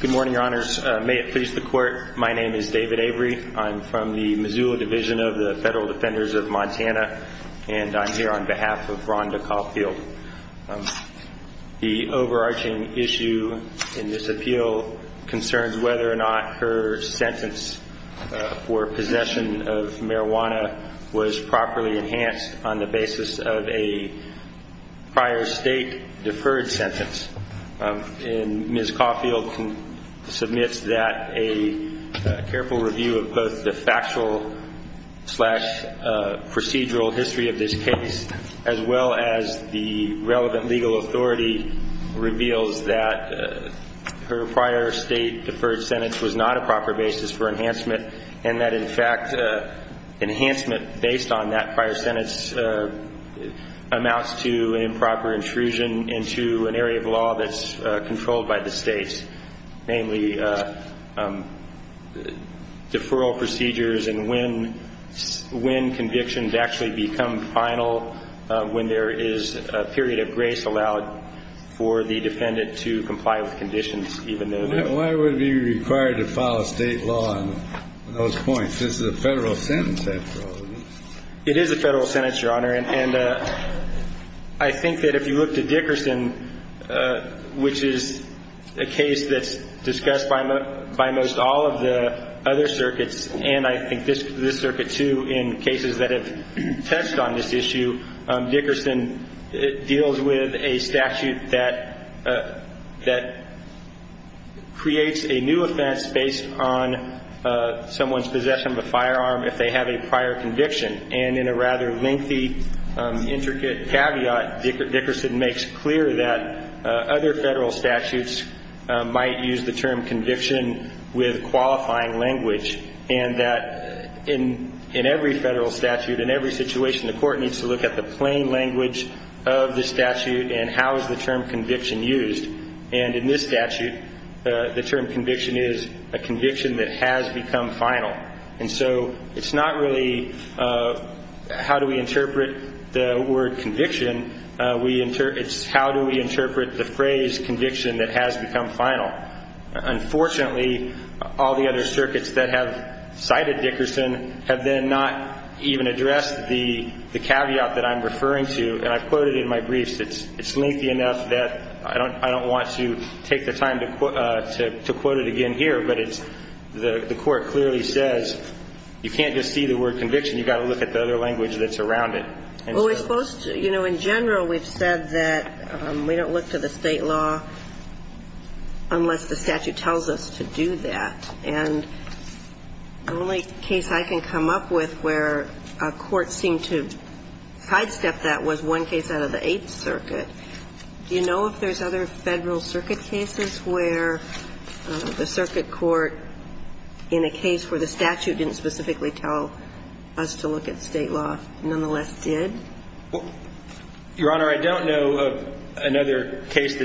Good morning, Your Honors. May it please the Court, my name is David Avery. I'm from the Missoula Division of the Federal Defenders of Montana, and I'm here on behalf of Rhonda Caulfield. The overarching issue in this appeal concerns whether or not her sentence for possession of marijuana was properly enhanced on the basis of a prior state deferred sentence. And Ms. Caulfield submits that a careful review of both the factual-slash-procedural history of this case, as well as the relevant legal authority, reveals that her prior state deferred sentence was not a proper basis for enhancement, and that, in fact, enhancement based on that prior sentence amounts to improper intrusion into an area of law that's controlled by the states, namely deferral procedures and when convictions actually become final when there is a period of grace allowed for the defendant to comply with conditions, even though they're not. Why would it be required to follow state law on those points? This is a federal sentence, after all, isn't it? It is a federal sentence, Your Honor, and I think that if you look to Dickerson, which is a case that's discussed by most all of the other circuits, and I think this circuit, too, in cases that have touched on this issue, Dickerson deals with a statute that creates a new offense based on someone's possession of a firearm if they have a prior conviction. And in a rather lengthy, intricate caveat, Dickerson makes clear that other federal statutes might use the term conviction with qualifying language, and that in every federal statute, in every situation, the court needs to look at the plain language of the statute and how is the term conviction used. And in this statute, the term conviction is a conviction that has become final. And so it's not really how do we interpret the word conviction, it's how do we interpret the phrase conviction that has become final. Unfortunately, all the other circuits that have cited Dickerson have then not even addressed the caveat that I'm referring to, and I've quoted in my briefs, it's lengthy enough that I don't want to take the time to quote it again here, but the court clearly says you can't just see the word conviction, you've got to look at the other language that's around it. Well, we're supposed to, you know, in general, we've said that we don't look to the state law unless the statute tells us to do that. And the only case I can come up with where a court seemed to sidestep that was one case out of the Eighth Circuit. Do you know if there's other Federal Circuit cases where the circuit court, in a case where the statute didn't specifically tell us to look at state law, nonetheless did? Your Honor, I don't know of another case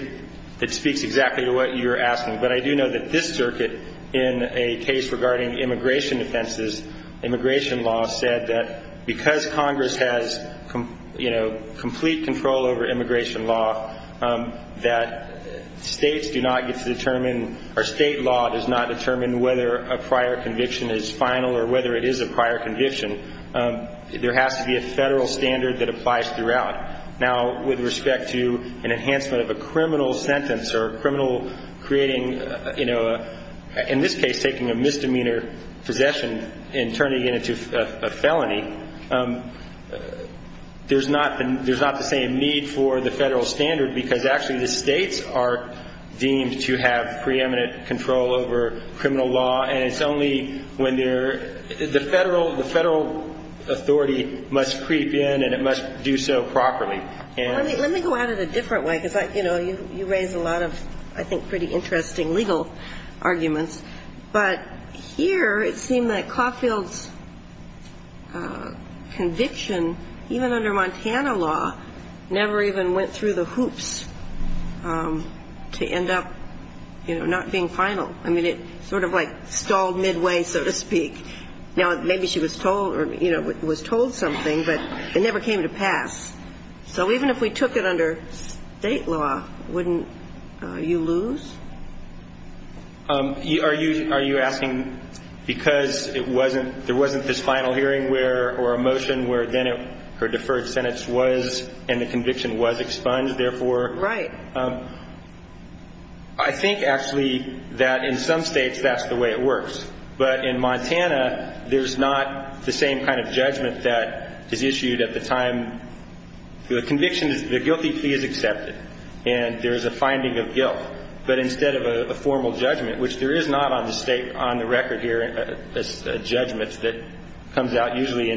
that speaks exactly to what you're asking. But I do know that this circuit, in a case regarding immigration offenses, immigration law, said that because Congress has, you know, complete control over immigration law, that states do not get to determine, or state law does not determine whether a prior conviction is final or whether it is a prior conviction. There has to be a Federal standard that applies throughout. Now, with respect to an enhancement of a criminal sentence or a criminal creating, you know, in this case taking a misdemeanor possession and turning it into a felony, there's not the same need for the Federal standard because actually the states are deemed to have preeminent control over criminal law. And it's only when the Federal authority must creep in and it must do so properly. Let me go at it a different way because, you know, you raise a lot of, I think, pretty interesting legal arguments. But here it seemed that Caulfield's conviction, even under Montana law, never even went through the hoops to end up, you know, not being final. I mean, it sort of like stalled midway, so to speak. Now, maybe she was told or, you know, was told something, but it never came to pass. So even if we took it under state law, wouldn't you lose? Are you asking because it wasn't – there wasn't this final hearing where – or a motion where then her deferred sentence was and the conviction was expunged, therefore? Right. I think, actually, that in some states that's the way it works. But in Montana, there's not the same kind of judgment that is issued at the time the conviction is – the guilty plea is accepted and there is a finding of guilt. But instead of a formal judgment, which there is not on the state – on the record here a judgment that comes out usually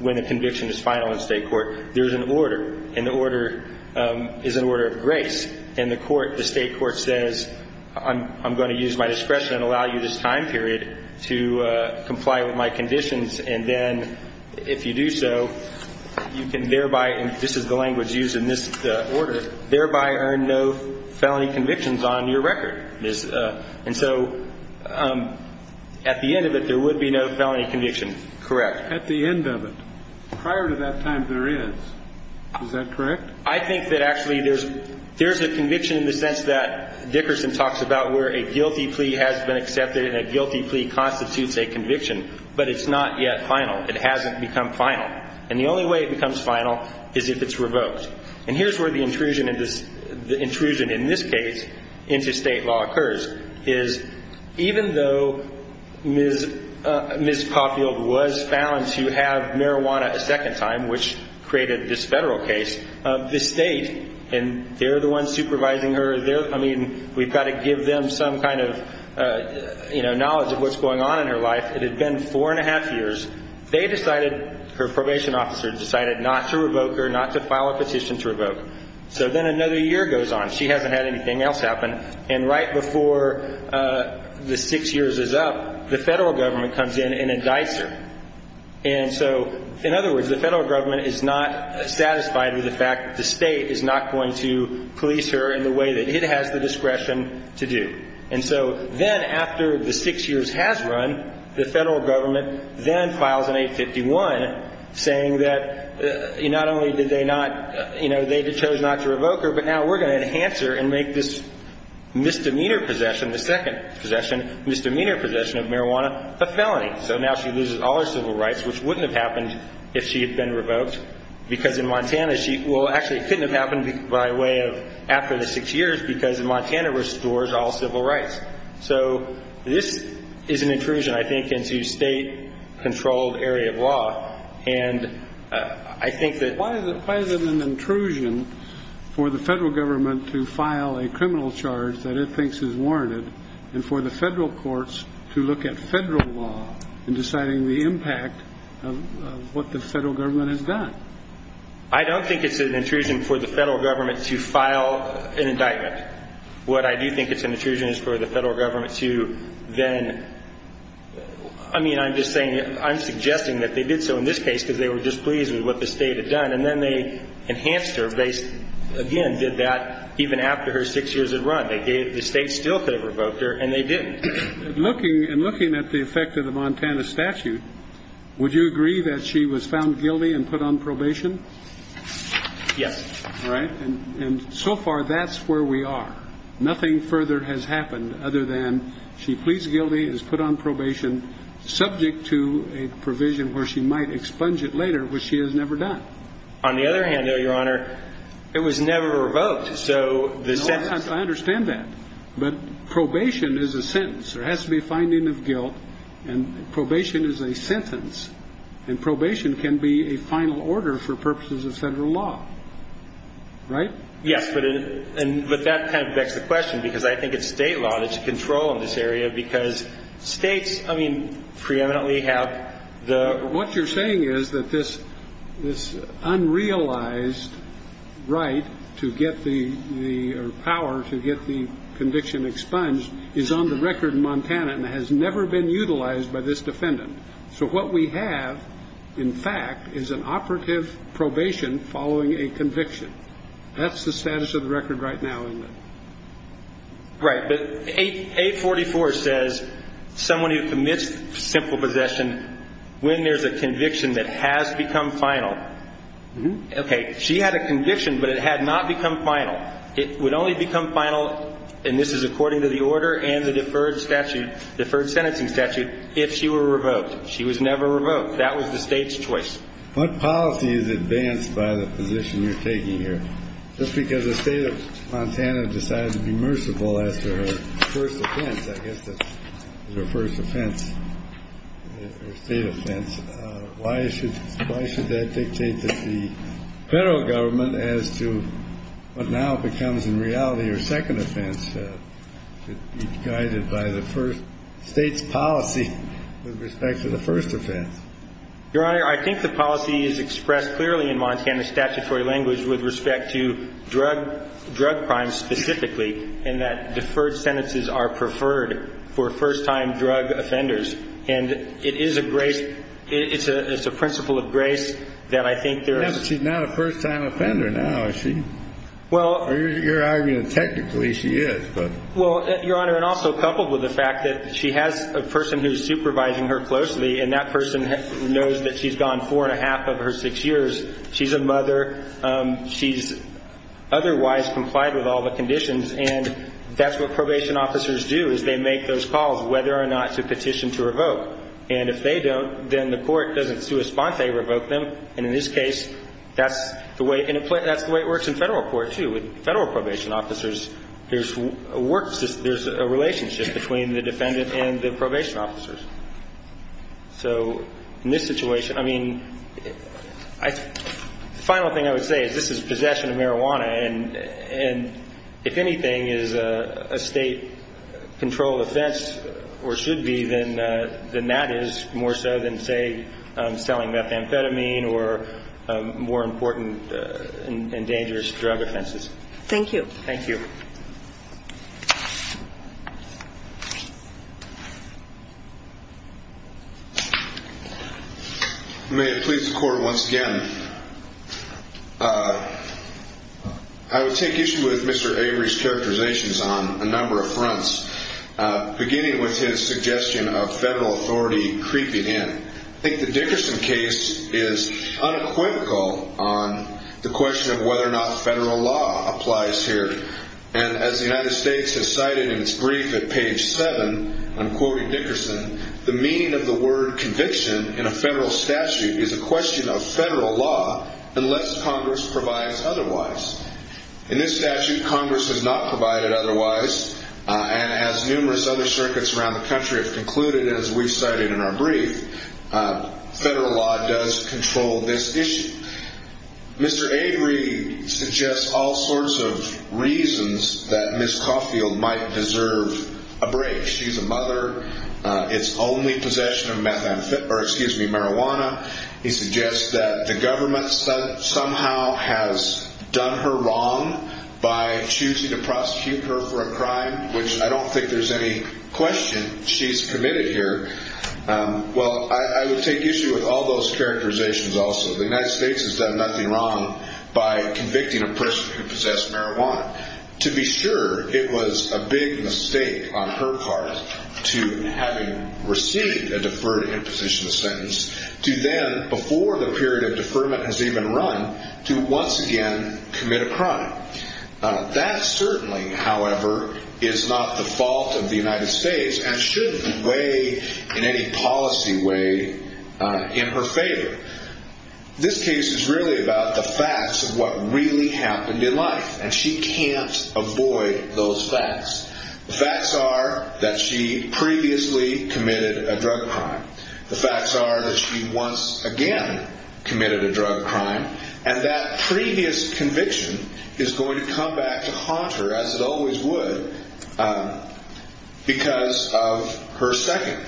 when a conviction is final in state court, there's an order, and the order is an order of grace. And the court – the state court says, I'm going to use my discretion and allow you this time period to comply with my conditions. And then if you do so, you can thereby – and this is the language used in this order – thereby earn no felony convictions on your record. And so at the end of it, there would be no felony conviction, correct? At the end of it. Prior to that time, there is. Is that correct? I think that actually there's – there's a conviction in the sense that Dickerson talks about where a guilty plea has been accepted and a guilty plea constitutes a conviction. But it's not yet final. It hasn't become final. And the only way it becomes final is if it's revoked. And here's where the intrusion in this – the intrusion in this case into state law occurs, is even though Ms. Caulfield was found to have marijuana a second time, which created this federal case, the state – and they're the ones supervising her. They're – I mean, we've got to give them some kind of, you know, knowledge of what's going on in her life. It had been four and a half years. They decided – her probation officer decided not to revoke her, not to file a petition to revoke. So then another year goes on. She hasn't had anything else happen. And right before the six years is up, the federal government comes in and indicts her. And so, in other words, the federal government is not satisfied with the fact that the state is not going to police her in the way that it has the discretion to do. And so then after the six years has run, the federal government then files an 851 saying that not only did they not – you know, they chose not to revoke her, but now we're going to enhance her and make this misdemeanor possession, the second possession, misdemeanor possession of marijuana a felony. So now she loses all her civil rights, which wouldn't have happened if she had been revoked, because in Montana she – well, actually, it couldn't have happened by way of after the six years because Montana restores all civil rights. So this is an intrusion, I think, into state-controlled area of law. And I think that – Why is it an intrusion for the federal government to file a criminal charge that it thinks is warranted and for the federal courts to look at federal law in deciding the impact of what the federal government has done? I don't think it's an intrusion for the federal government to file an indictment. What I do think it's an intrusion is for the federal government to then – I mean, I'm just saying – I'm suggesting that they did so in this case because they were just pleased with what the state had done. And then they enhanced her. They, again, did that even after her six years had run. They gave – the state still could have revoked her, and they didn't. And looking at the effect of the Montana statute, would you agree that she was found guilty and put on probation? Yes. All right. And so far, that's where we are. Nothing further has happened other than she pleads guilty, is put on probation, subject to a provision where she might expunge it later, which she has never done. On the other hand, though, Your Honor, it was never revoked. I understand that. But probation is a sentence. There has to be a finding of guilt, and probation is a sentence. And probation can be a final order for purposes of federal law. Right? Yes, but that kind of begs the question because I think it's state law. There's a control in this area because states, I mean, preeminently have the – or power to get the conviction expunged is on the record in Montana and has never been utilized by this defendant. So what we have, in fact, is an operative probation following a conviction. That's the status of the record right now, England. Right. But 844 says someone who commits simple possession, when there's a conviction that has become final – Okay. She had a conviction, but it had not become final. It would only become final, and this is according to the order and the deferred statute, deferred sentencing statute, if she were revoked. She was never revoked. That was the State's choice. What policy is advanced by the position you're taking here? Just because the State of Montana decided to be merciful after her first offense, I guess that's her first offense or state offense, why should that dictate that the Federal Government as to what now becomes in reality her second offense should be guided by the first State's policy with respect to the first offense? Your Honor, I think the policy is expressed clearly in Montana's statutory language with respect to drug crimes specifically, and that deferred sentences are preferred for first-time drug offenders. And it is a grace – it's a principle of grace that I think there are – No, she's not a first-time offender now, is she? Well – You're arguing that technically she is, but – Well, Your Honor, and also coupled with the fact that she has a person who's supervising her closely, and that person knows that she's gone four and a half of her six years, she's a mother, she's otherwise complied with all the conditions, and that's what probation officers do is they make those calls whether or not to petition to revoke. And if they don't, then the court doesn't sui sponte, revoke them. And in this case, that's the way – and that's the way it works in Federal court, too. With Federal probation officers, there's a work – there's a relationship between the defendant and the probation officers. So in this situation, I mean, I – the final thing I would say is this is possession of marijuana, and if anything is a State-controlled offense or should be, then that is more so than, say, selling methamphetamine or more important and dangerous drug offenses. Thank you. Thank you. You may have pleased the court once again. I would take issue with Mr. Avery's characterizations on a number of fronts, beginning with his suggestion of Federal authority creeping in. I think the Dickerson case is unequivocal on the question of whether or not Federal law applies here. And as the United States has cited in its brief at page 7, I'm quoting Dickerson, the meaning of the word conviction in a Federal statute is a question of Federal law unless Congress provides otherwise. In this statute, Congress has not provided otherwise, and as numerous other circuits around the country have concluded, as we've cited in our brief, Federal law does control this issue. Mr. Avery suggests all sorts of reasons that Ms. Caulfield might deserve a break. She's a mother. It's only possession of marijuana. He suggests that the government somehow has done her wrong by choosing to prosecute her for a crime, which I don't think there's any question she's committed here. Well, I would take issue with all those characterizations also. The United States has done nothing wrong by convicting a person who possessed marijuana. To be sure, it was a big mistake on her part to having received a deferred imposition of sentence to then, before the period of deferment has even run, to once again commit a crime. That certainly, however, is not the fault of the United States and shouldn't weigh in any policy way in her favor. This case is really about the facts of what really happened in life, and she can't avoid those facts. The facts are that she previously committed a drug crime. The facts are that she once again committed a drug crime, and that previous conviction is going to come back to haunt her, as it always would, because of her second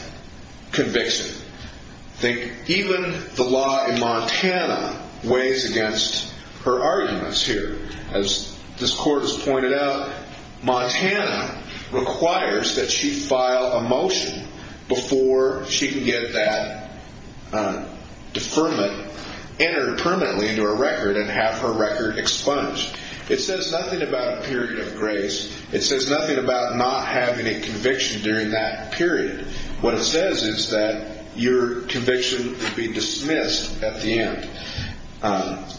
conviction. I think even the law in Montana weighs against her arguments here. As this court has pointed out, Montana requires that she file a motion before she can get that deferment entered permanently into her record and have her record expunged. It says nothing about a period of grace. It says nothing about not having a conviction during that period. What it says is that your conviction would be dismissed at the end.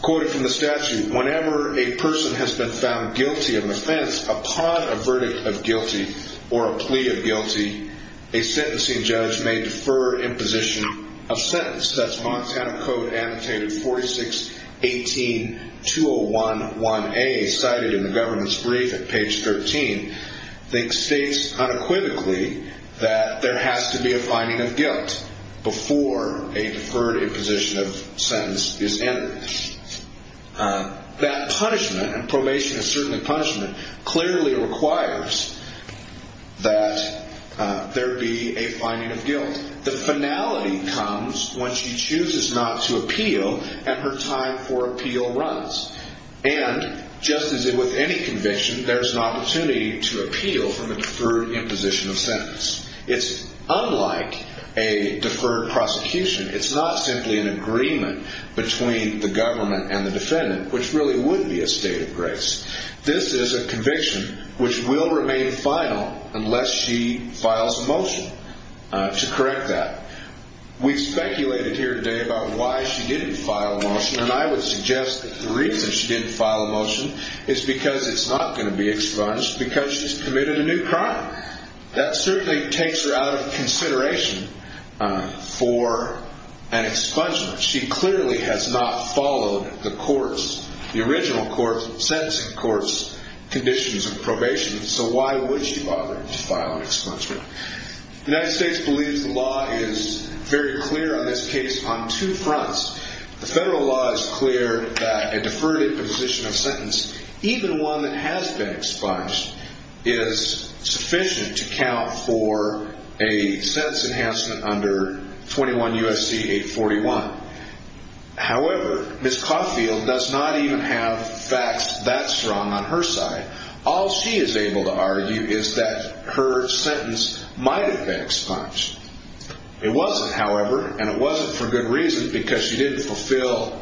Quoted from the statute, whenever a person has been found guilty of an offense upon a verdict of guilty or a plea of guilty, a sentencing judge may defer imposition of sentence. That's Montana Code Annotated 4618-2011A, cited in the government's brief at page 13. It states unequivocally that there has to be a finding of guilt before a deferred imposition of sentence is entered. That punishment, and probation is certainly punishment, clearly requires that there be a finding of guilt. The finality comes when she chooses not to appeal, and her time for appeal runs. And, just as with any conviction, there's an opportunity to appeal from a deferred imposition of sentence. It's unlike a deferred prosecution. It's not simply an agreement between the government and the defendant, which really would be a state of grace. This is a conviction which will remain final unless she files a motion to correct that. We've speculated here today about why she didn't file a motion, and I would suggest that the reason she didn't file a motion is because it's not going to be expunged because she's committed a new crime. That certainly takes her out of consideration for an expungement. She clearly has not followed the courts, the original courts, sentencing courts, conditions of probation, so why would she bother to file an expungement? The United States believes the law is very clear on this case on two fronts. The federal law is clear that a deferred imposition of sentence, even one that has been expunged, is sufficient to count for a sentence enhancement under 21 U.S.C. 841. However, Ms. Caulfield does not even have facts that strong on her side. All she is able to argue is that her sentence might have been expunged. It wasn't, however, and it wasn't for good reason because she didn't fulfill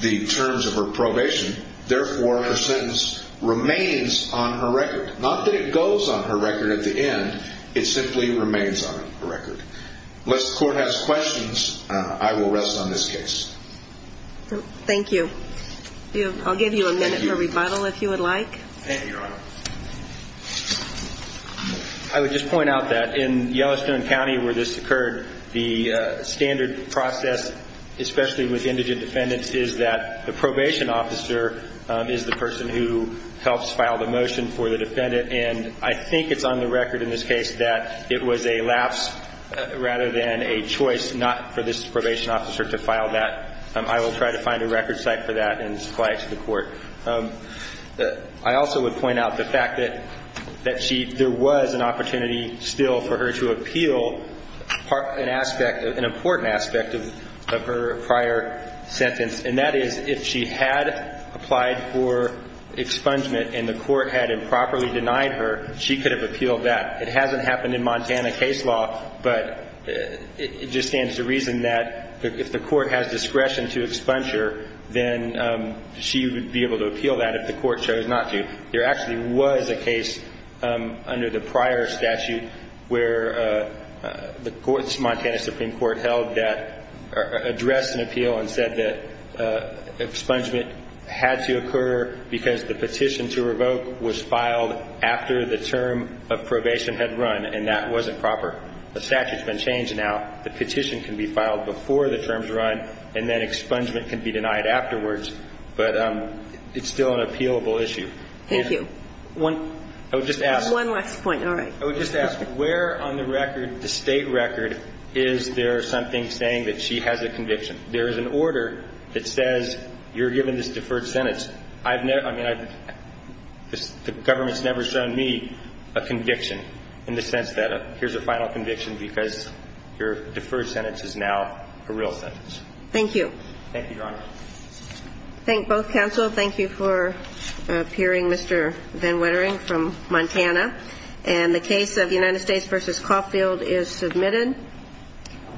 the terms of her probation. Therefore, her sentence remains on her record. Not that it goes on her record at the end. It simply remains on her record. Unless the court has questions, I will rest on this case. Thank you. I'll give you a minute for rebuttal if you would like. Thank you, Your Honor. I would just point out that in Yellowstone County where this occurred, the standard process, especially with indigent defendants, is that the probation officer is the person who helps file the motion for the defendant, and I think it's on the record in this case that it was a lapse rather than a choice not for this probation officer to file that. I will try to find a record site for that and supply it to the court. I also would point out the fact that there was an opportunity still for her to appeal an important aspect of her prior sentence, and that is if she had applied for expungement and the court had improperly denied her, she could have appealed that. It hasn't happened in Montana case law, but it just stands to reason that if the court has discretion to expunge her, then she would be able to appeal that if the court chose not to. There actually was a case under the prior statute where the Montana Supreme Court held that, addressed an appeal and said that expungement had to occur because the petition to revoke was filed after the term of probation had run, and that wasn't proper. The statute's been changed now. The petition can be filed before the term's run, and then expungement can be denied afterwards. But it's still an appealable issue. Thank you. I would just ask. One last point. All right. I would just ask, where on the record, the State record, is there something saying that she has a conviction? There is an order that says you're given this deferred sentence. The government's never shown me a conviction in the sense that here's a final conviction because your deferred sentence is now a real sentence. Thank you. Thank you, Your Honor. Thank both counsel. Thank you for appearing, Mr. Van Wettering, from Montana. And the case of United States v. Caulfield is submitted.